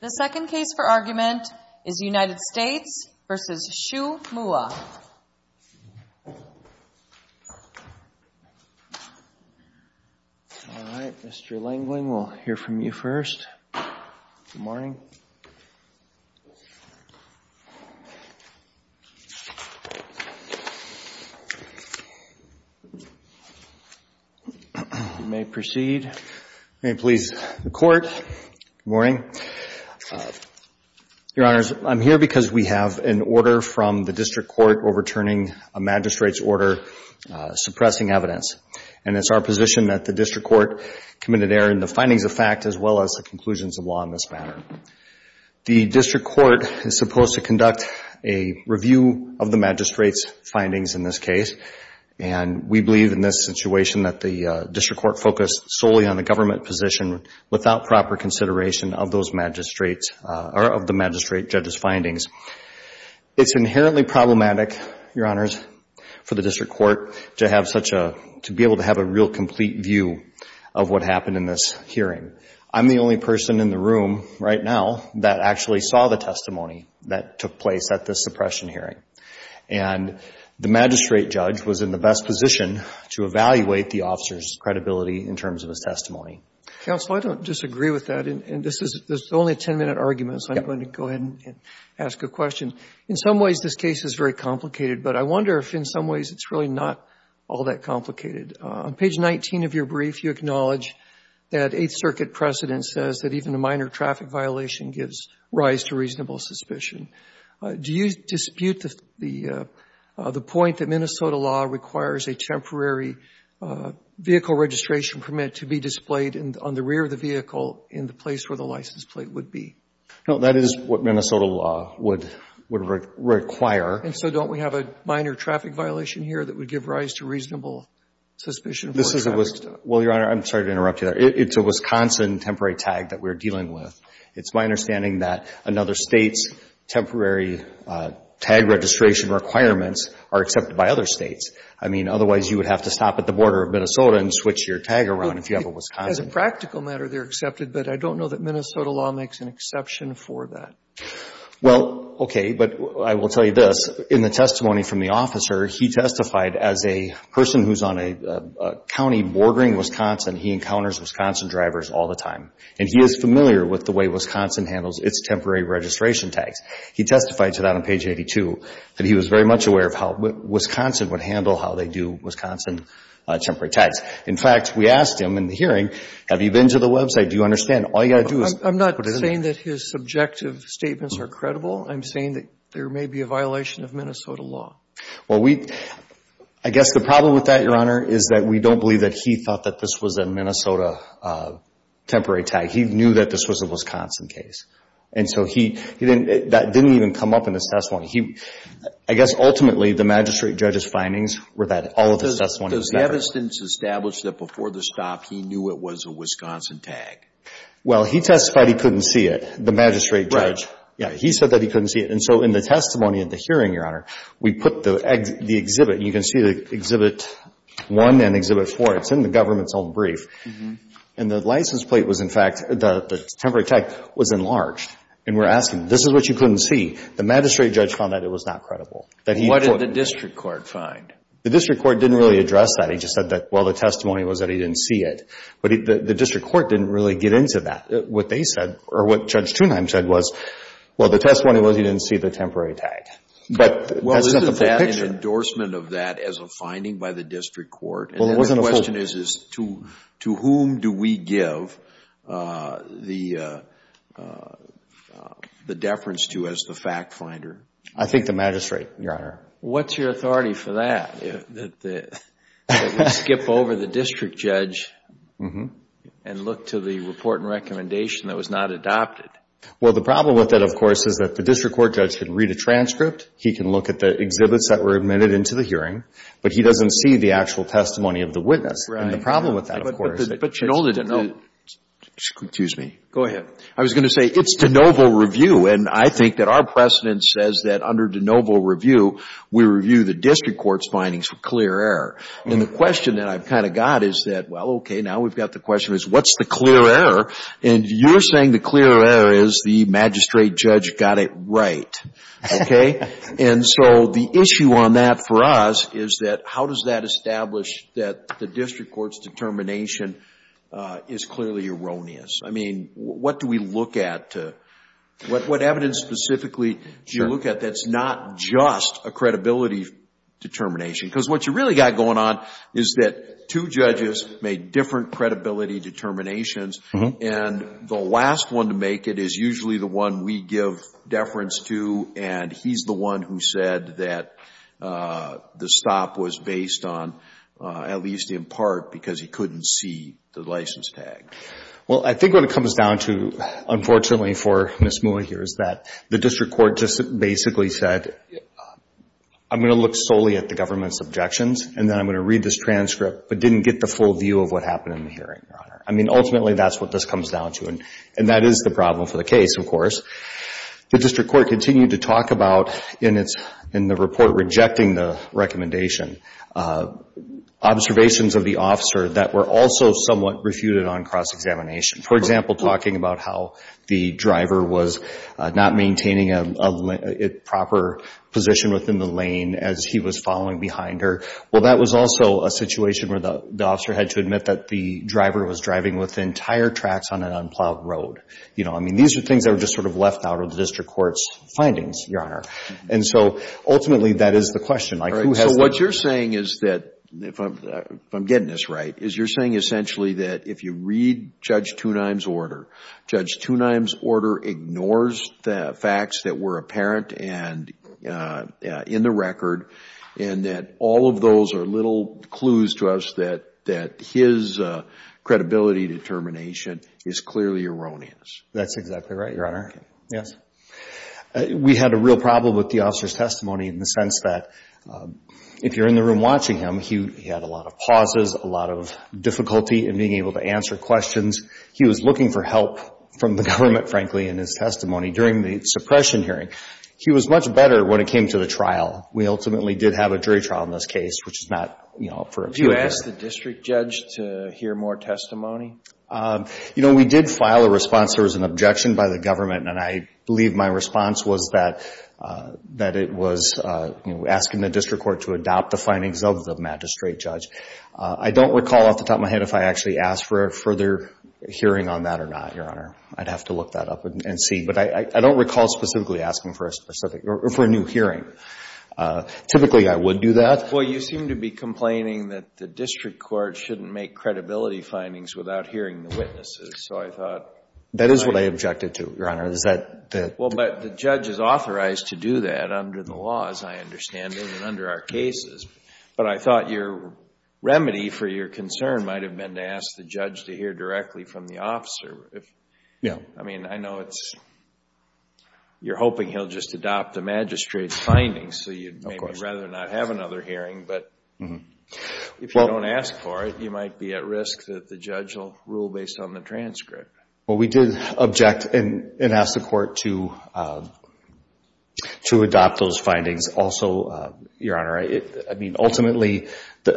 The second case for argument is United States v. Shue Moua. All right, Mr. Langland, we'll hear from you first. Good morning. You may proceed. May it please the Court. Good morning. Your Honors, I'm here because we have an order from the District Court overturning a magistrate's order suppressing evidence. And it's our position that the District Court committed error in the findings of fact as well as the conclusions of law in this matter. The District Court is supposed to conduct a review of the magistrate's findings in this case. And we believe in this situation that the District Court focused solely on the government position without proper consideration of those magistrates or of the magistrate judge's findings. It's inherently problematic, Your Honors, for the District Court to be able to have a real complete view of what happened in this hearing. I'm the only person in the room right now that actually saw the testimony that took place at this suppression hearing. And the magistrate judge was in the best position to evaluate the officer's credibility in terms of his testimony. Counsel, I don't disagree with that. And this is only a 10-minute argument, so I'm going to go ahead and ask a question. In some ways, this case is very complicated, but I wonder if in some ways it's really not all that complicated. On page 19 of your brief, you acknowledge that Eighth Circuit precedent says that even a minor traffic violation gives rise to reasonable suspicion. Do you dispute the point that Minnesota law requires a temporary vehicle registration permit to be displayed on the rear of the vehicle in the place where the license plate would be? No, that is what Minnesota law would require. And so don't we have a minor traffic violation here that would give rise to reasonable suspicion? Well, Your Honor, I'm sorry to interrupt you there. It's a Wisconsin temporary tag that we're dealing with. It's my understanding that another state's temporary tag registration requirements are accepted by other states. I mean, otherwise you would have to stop at the border of Minnesota and switch your tag around if you have a Wisconsin. As a practical matter, they're accepted, but I don't know that Minnesota law makes an exception for that. Well, okay, but I will tell you this. In the testimony from the officer, he testified as a person who's on a county bordering Wisconsin. He encounters Wisconsin drivers all the time. And he is familiar with the way Wisconsin handles its temporary registration tags. He testified to that on page 82 that he was very much aware of how Wisconsin would handle how they do Wisconsin temporary tags. In fact, we asked him in the hearing, have you been to the website? Do you understand? All you've got to do is put it in there. I'm not saying that his subjective statements are credible. I'm saying that there may be a violation of Minnesota law. Well, I guess the problem with that, Your Honor, is that we don't believe that he thought that this was a Minnesota temporary tag. He knew that this was a Wisconsin case. And so that didn't even come up in his testimony. I guess, ultimately, the magistrate judge's findings were that all of his testimony was never true. Does the evidence establish that before the stop, he knew it was a Wisconsin tag? Well, he testified he couldn't see it, the magistrate judge. Yeah, he said that he couldn't see it. And so in the testimony at the hearing, Your Honor, we put the exhibit. You can see Exhibit 1 and Exhibit 4. It's in the government's own brief. And the license plate was, in fact, the temporary tag was enlarged. And we're asking, this is what you couldn't see? The magistrate judge found that it was not credible. What did the district court find? The district court didn't really address that. He just said that, well, the testimony was that he didn't see it. But the district court didn't really get into that. What Judge Thunheim said was, well, the testimony was he didn't see the temporary tag. But that's not the full picture. Well, isn't that an endorsement of that as a finding by the district court? And the question is, to whom do we give the deference to as the fact finder? I think the magistrate, Your Honor. What's your authority for that, that we skip over the district judge and look to the report and recommendation that was not adopted? Well, the problem with that, of course, is that the district court judge can read a transcript. He can look at the exhibits that were admitted into the hearing. But he doesn't see the actual testimony of the witness. And the problem with that, of course, is that it's de novo. I was going to say, it's de novo review. And I think that our precedent says that under de novo review, we review the district court's findings for clear error. And the question that I've kind of got is that, well, okay, now we've got the question, what's the clear error? And you're saying the clear error is the magistrate judge got it right. Okay? And so the issue on that for us is that how does that establish that the district court's determination is clearly erroneous? I mean, what do we look at? What evidence specifically do you look at that's not just a credibility determination? Because what you've really got going on is that two judges made different credibility determinations. And the last one to make it is usually the one we give deference to, and he's the one who said that the stop was based on, at least in part, because he couldn't see the license tag. Well, I think what it comes down to, unfortunately for Ms. Moua here, is that the district court just basically said, I'm going to look solely at the government's objections, and then I'm going to read this transcript, but didn't get the full view of what happened in the hearing, Your Honor. I mean, ultimately, that's what this comes down to. And that is the problem for the case, of course. The district court continued to talk about, in the report rejecting the recommendation, observations of the officer that were also somewhat refuted on cross-examination. For example, talking about how the driver was not maintaining a proper position within the lane as he was following behind her. Well, that was also a situation where the officer had to admit that the driver was driving within tire tracks on an unplowed road. I mean, these are things that were just sort of left out of the district court's findings, Your Honor. And so, ultimately, that is the question. What you're saying is that, if I'm getting this right, is you're saying essentially that if you read Judge Tunheim's order, Judge Tunheim's order ignores the facts that were apparent and in the record, and that all of those are little clues to us that his credibility determination is clearly erroneous. That's exactly right, Your Honor. We had a real problem with the officer's testimony in the sense that, if you're in the room watching him, he had a lot of pauses, a lot of difficulty in being able to answer questions. He was looking for help from the government, frankly, in his testimony during the suppression hearing. He was much better when it came to the trial. We ultimately did have a jury trial in this case, which is not, you know, for a few years. Did you ask the district judge to hear more testimony? You know, we did file a response. There was an objection by the government, and I believe my response was that it was, you know, asking the district court to adopt the findings of the magistrate judge. I don't recall off the top of my head if I actually asked for a further hearing on that or not, Your Honor. I'd have to look that up and see. But I don't recall specifically asking for a new hearing. Typically, I would do that. Well, you seem to be complaining that the district court shouldn't make credibility findings without hearing the witnesses, so I thought... That is what I objected to, Your Honor. Well, but the judge is authorized to do that under the law, as I understand it, and under our cases. But I thought your remedy for your concern might have been to ask the judge to hear directly from the officer. I mean, I know you're hoping he'll just adopt the magistrate's findings, so you'd maybe rather not have another hearing. But if you don't ask for it, you might be at risk that the judge will rule based on the transcript. Well, we did object and ask the court to adopt those findings. Also, Your Honor, I mean, ultimately,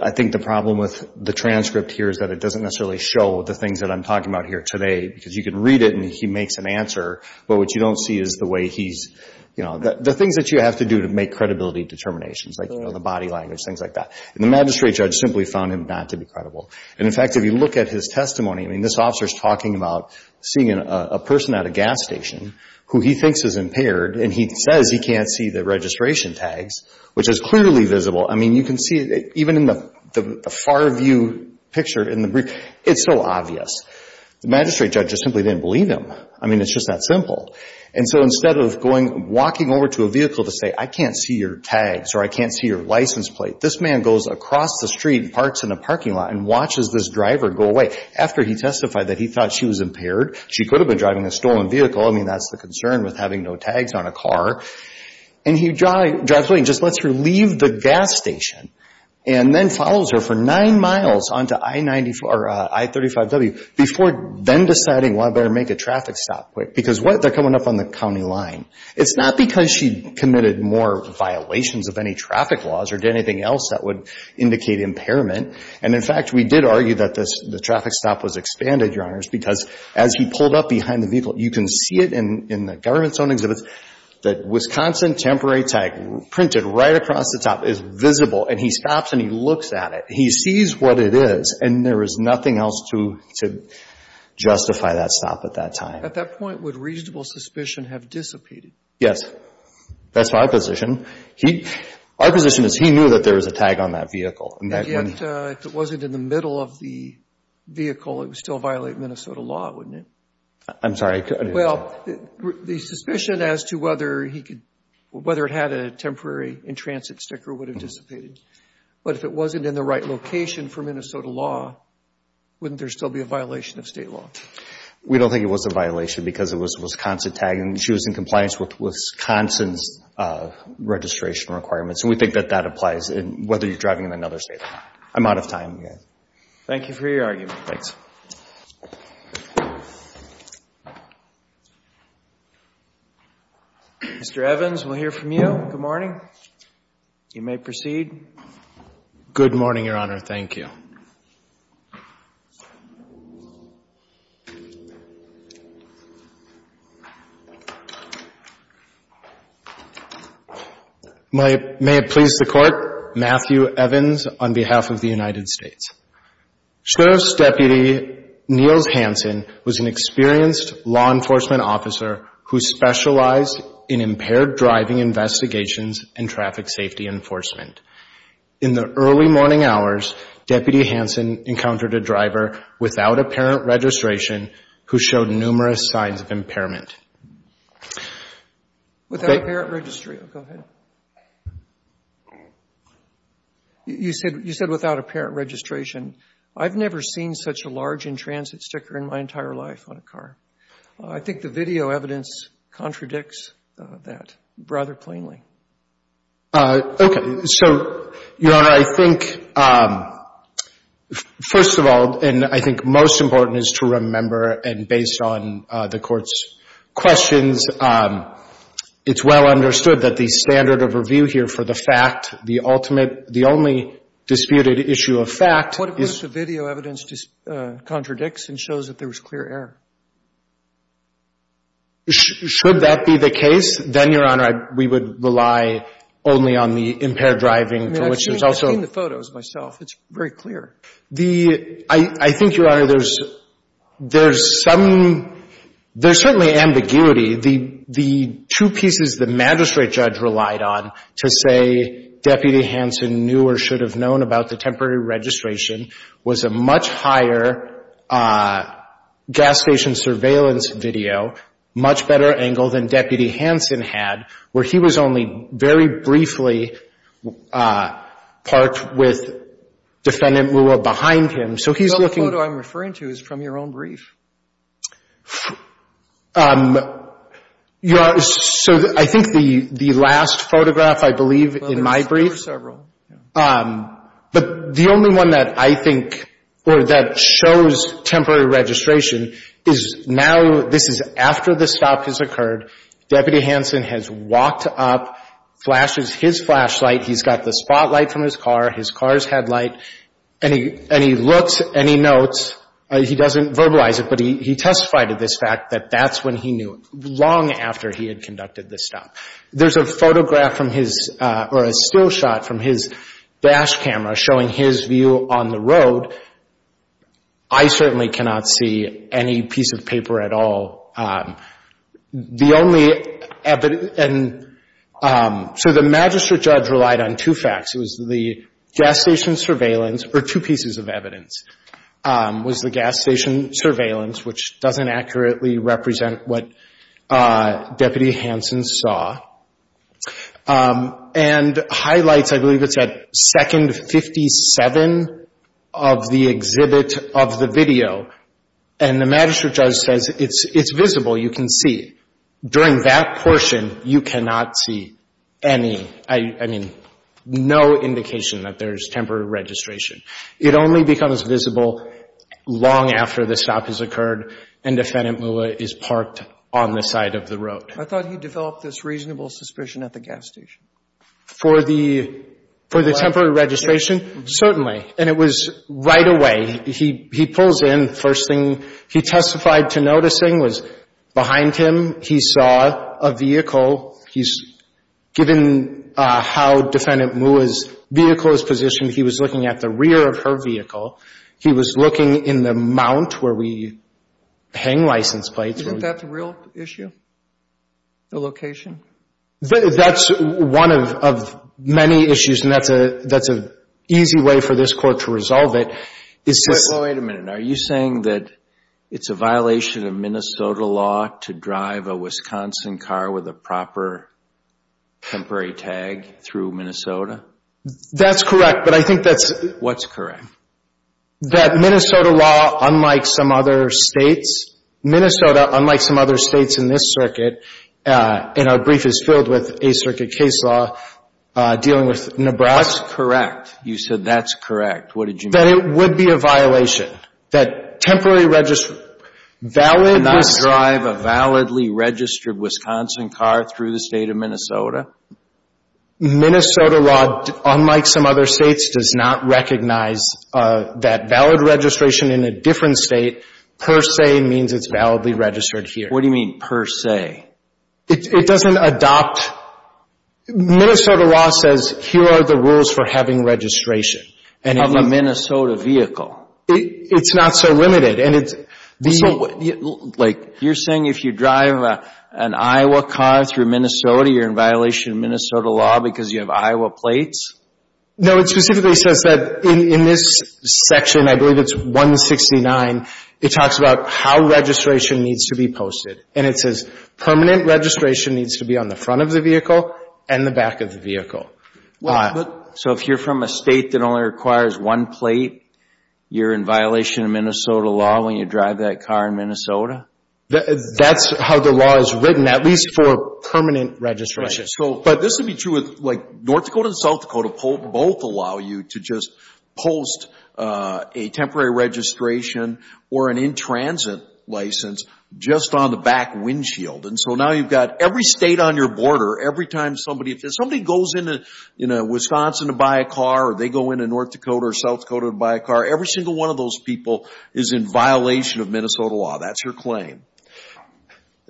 I think the problem with the transcript here is that it doesn't necessarily show the things that I'm talking about here today, because you can read it and he makes an answer, but what you don't see is the way he's, you know, the things that you have to do to make credibility determinations, like, you know, the body language, things like that. And the magistrate judge simply found him not to be credible. And, in fact, if you look at his testimony, I mean, this officer's talking about seeing a person at a gas station who he thinks is impaired, and he says he can't see the registration tags, which is clearly visible. I mean, you can see, even in the far view picture in the brief, it's so obvious. The magistrate judge just simply didn't believe him. I mean, it's just that simple. And so instead of going, walking over to a vehicle to say, I can't see your tags or I can't see your license plate, this man goes across the street and parks in a parking lot and watches this driver go away. After he testified that he thought she was impaired, she could have been driving a stolen vehicle. I mean, that's the concern with having no tags on a car. And he drives away and just lets her leave the gas station and then follows her for nine miles onto I-94, or I-35W, before then deciding, well, I better make a traffic stop, because they're coming up on the county line. It's not because she committed more violations of any traffic laws or did anything else that would indicate impairment. And, in fact, we did argue that the traffic stop was expanded, Your Honors, because as he pulled up behind the vehicle, you can see it in the government zone exhibits, that Wisconsin temporary tag printed right across the top is visible, and he stops and he looks at it. He sees what it is, and there is nothing else to justify that stop at that time. At that point, would reasonable suspicion have dissipated? Yes. That's my position. Our position is he knew that there was a tag on that vehicle. And yet, if it wasn't in the middle of the vehicle, it would still violate Minnesota law, wouldn't it? I'm sorry. Well, the suspicion as to whether it had a temporary in-transit sticker would have dissipated. But if it wasn't in the right location for Minnesota law, wouldn't there still be a violation of state law? We don't think it was a violation, because it was a Wisconsin tag, and she was in compliance with Wisconsin's registration requirements, and we think that that applies whether you're driving in another state or not. I'm out of time. Thank you for your argument. Mr. Evans, we'll hear from you. Good morning. Good morning, Your Honor. Thank you. May it please the Court, Matthew Evans on behalf of the United States. Sheriff's Deputy Niels Hansen was an experienced law enforcement officer who specialized in impaired driving investigations and traffic safety enforcement. In the early morning hours, Deputy Hansen encountered a driver without apparent registration who showed numerous signs of impairment. You said without apparent registration. I've never seen such a large in-transit sticker in my entire life on a car. I think the video evidence contradicts that rather plainly. Okay. So, Your Honor, I think, first of all, and I think most important is to remember, and based on the Court's questions, it's well understood that the standard of review here for the fact, the ultimate, the only disputed issue of fact is... ...that there was clear error. Should that be the case, then, Your Honor, we would rely only on the impaired driving for which there's also... I've seen the photos myself. It's very clear. I think, Your Honor, there's some, there's certainly ambiguity. The two pieces the magistrate judge relied on to say Deputy Hansen knew or should have known about the temporary registration was a much higher gas station surveillance video, much better angle than Deputy Hansen had, where he was only very briefly parked with Defendant Mua behind him. So he's looking... The other photo I'm referring to is from your own brief. Your Honor, so I think the last photograph, I believe, in my brief, but the only one that I think, or that shows temporary registration is now, this is after the stop has occurred, Deputy Hansen has walked up, flashes his flashlight, he's got the spotlight from his car, his car's headlight, and he looks and he notes, he doesn't verbalize it, but he testified to this fact that that's when he knew it, long after he had conducted this stop. There's a photograph from his, or a still shot from his dash camera showing his view on the road. I certainly cannot see any piece of paper at all. The only evidence, so the magistrate judge relied on two facts. It was the gas station surveillance, or two pieces of evidence, was the gas station surveillance, which doesn't accurately represent what Deputy Hansen saw, and highlights, I believe it's at second 57 of the exhibit of the video, and the magistrate judge says it's visible, you can see. During that portion, you cannot see any, I mean, no indication that there's temporary registration. It only becomes visible long after the stop has occurred, and Defendant Mula is parked on the side of the road. I thought he developed this reasonable suspicion at the gas station. For the temporary registration? Certainly, and it was right away. He pulls in, first thing he testified to noticing was behind him he saw a vehicle. Given how Defendant Mula's vehicle is positioned, he was looking at the rear of her vehicle. He was looking in the mount where we hang license plates. That's a real issue? The location? That's one of many issues, and that's an easy way for this court to resolve it. Wait a minute. Are you saying that it's a violation of Minnesota law to drive a Wisconsin car with a proper temporary tag through Minnesota? That's correct. But I think that's... What's correct? That Minnesota law, unlike some other states in this circuit, and our brief is filled with a circuit case law dealing with Nebraska... What's correct? You said that's correct. What did you mean? That it would be a violation, that temporary... Cannot drive a validly registered Wisconsin car through the state of Minnesota? Minnesota law, unlike some other states, does not recognize that valid registration in a different state per se means it's validly registered here. What do you mean per se? It doesn't adopt... Minnesota law says here are the rules for having registration. Of a Minnesota vehicle. It's not so limited. You're saying if you drive an Iowa car through Minnesota, you're in violation of Minnesota law because you have Iowa plates? No, it specifically says that in this section, I believe it's 169, it talks about how registration needs to be posted. And it says permanent registration needs to be on the front of the vehicle and the back of the vehicle. So if you're from a state that only requires one plate, you're in violation of Minnesota law when you drive that car in Minnesota? That's how the law is written, at least for permanent registration. But this would be true with North Dakota and South Dakota. Both allow you to just post a temporary registration or an in-transit license just on the back windshield. So now you've got every state on your border, every time somebody goes into Wisconsin to buy a car or they go into North Dakota or South Dakota to buy a car, every single one of those people is in violation of Minnesota law. That's your claim.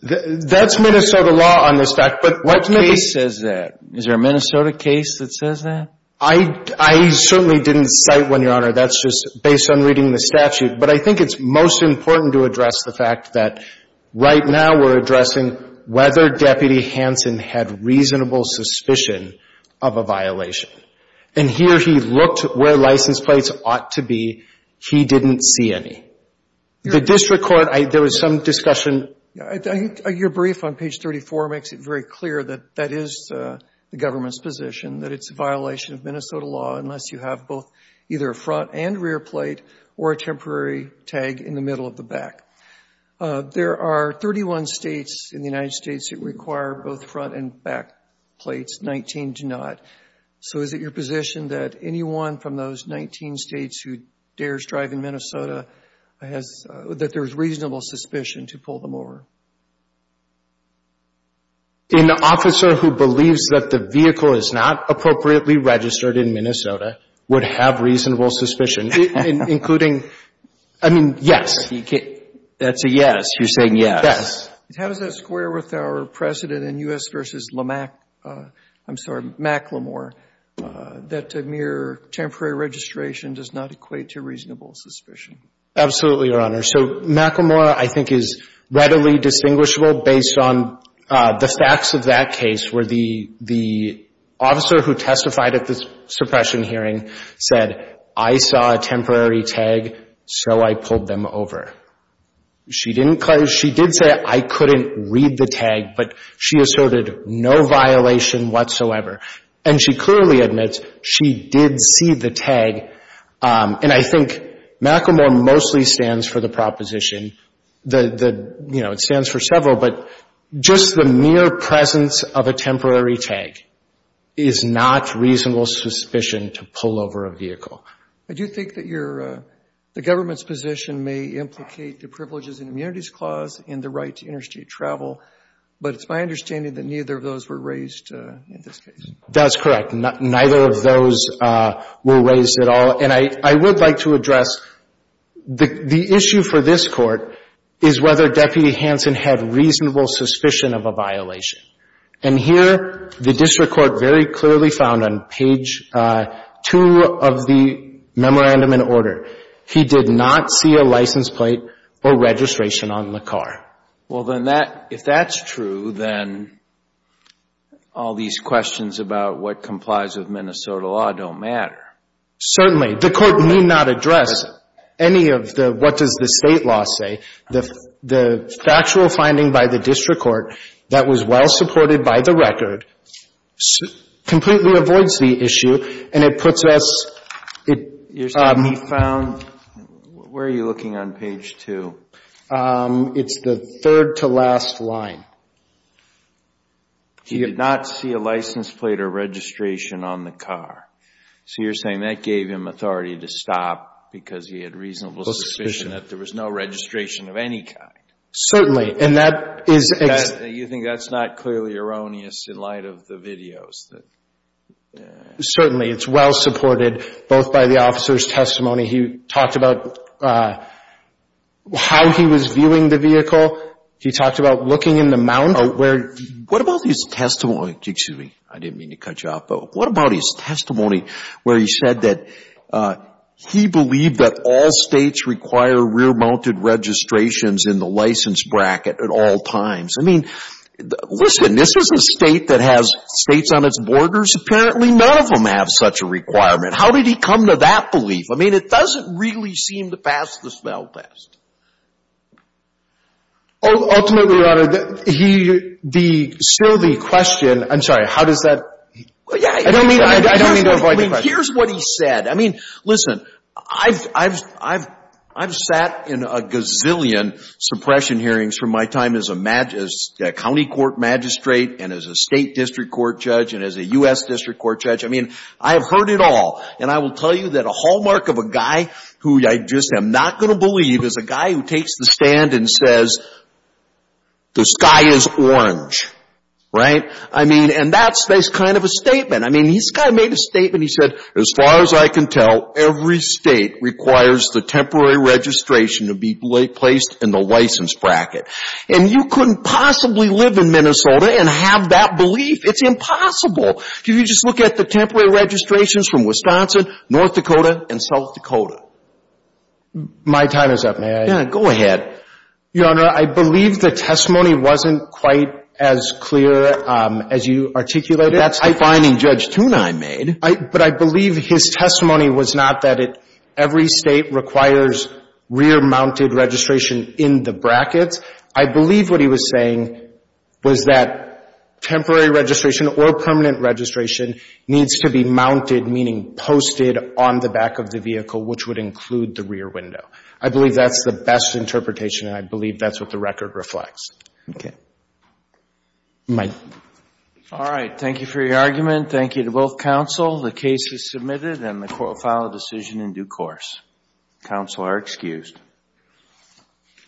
That's Minnesota law on this, but what case says that? Is there a Minnesota case that says that? I certainly didn't cite one, Your Honor. That's just based on reading the statute. But I think it's most important to address the fact that right now we're addressing whether Deputy Hanson had reasonable suspicion of a violation. And here he looked where license plates ought to be. He didn't see any. The district court, there was some discussion. Your brief on page 34 makes it very clear that that is the government's position, that it's a violation of Minnesota law unless you have both either a front and rear plate or a temporary tag in the middle of the back. There are 31 states in the United States that require both front and back plates. 19 do not. So is it your position that anyone from those 19 states who dares drive in Minnesota, that there's reasonable suspicion to pull them over? An officer who believes that the vehicle is not appropriately registered in Minnesota would have reasonable suspicion, including, I mean, yes. That's a yes. You're saying yes. How does that square with our precedent in U.S. v. Macklemore that mere temporary registration does not equate to reasonable suspicion? Absolutely, Your Honor. So Macklemore, I think, is readily distinguishable based on the facts of that case where the officer who testified at the suppression hearing said, I saw a temporary tag, so I pulled them over. She didn't close. She did say I couldn't read the tag, but she asserted no violation whatsoever. And she clearly admits she did see the tag. And I think Macklemore mostly stands for the proposition that, you know, it stands for several, but just the mere presence of a temporary tag is not reasonable suspicion to pull over a vehicle. I do think that your — the government's position may implicate the privileges and immunities clause in the right to interstate travel, but it's my understanding that neither of those were raised in this case. That's correct. Neither of those were raised at all. And I would like to address the issue for this Court is whether Deputy Hansen had reasonable suspicion of a violation. And here, the district court very clearly found on page 2 of the Well, then that — if that's true, then all these questions about what complies with Minnesota law don't matter. Certainly. The Court need not address any of the what does the State law say. The factual finding by the district court that was well-supported by the record completely avoids the issue, and it puts us — You're saying he found — where are you looking on page 2? It's the third-to-last line. He did not see a license plate or registration on the car. So you're saying that gave him authority to stop because he had reasonable suspicion that there was no registration of any kind. Certainly. And that is — You think that's not clearly erroneous in light of the videos that — Certainly. It's well-supported both by the officer's testimony. He talked about how he was viewing the vehicle. He talked about looking in the mount. What about his testimony — excuse me, I didn't mean to cut you off, but what about his testimony where he said that he believed that all States require rear-mounted registrations in the license bracket at all times? I mean, listen, this is a State that has States on its borders? It's apparently none of them have such a requirement. How did he come to that belief? I mean, it doesn't really seem to pass the smell test. Ultimately, Your Honor, he — still the question — I'm sorry, how does that — I don't mean to avoid the question. Here's what he said. I mean, listen, I've sat in a gazillion suppression hearings from my time as a county court magistrate and as a State district court judge and as a U.S. district court judge. I mean, I have heard it all. And I will tell you that a hallmark of a guy who I just am not going to believe is a guy who takes the stand and says, the sky is orange. Right? I mean, and that's kind of a statement. I mean, this guy made a statement. He said, as far as I can tell, every State requires the temporary registration to be placed in the license bracket. And you couldn't possibly live in Minnesota and have that belief. It's impossible. If you just look at the temporary registrations from Wisconsin, North Dakota, and South Dakota. My time is up. May I? Yeah, go ahead. Your Honor, I believe the testimony wasn't quite as clear as you articulated. That's the finding Judge Tunine made. But I believe his testimony was not that every State requires rear-mounted registration in the brackets. I believe what he was saying was that temporary registration or permanent registration needs to be mounted, meaning posted, on the back of the vehicle, which would include the rear window. I believe that's the best interpretation, and I believe that's what the record reflects. Mike. All right. Thank you for your argument. Thank you to both counsel. The case is submitted, and the court will file a decision in due course. Counsel are excused.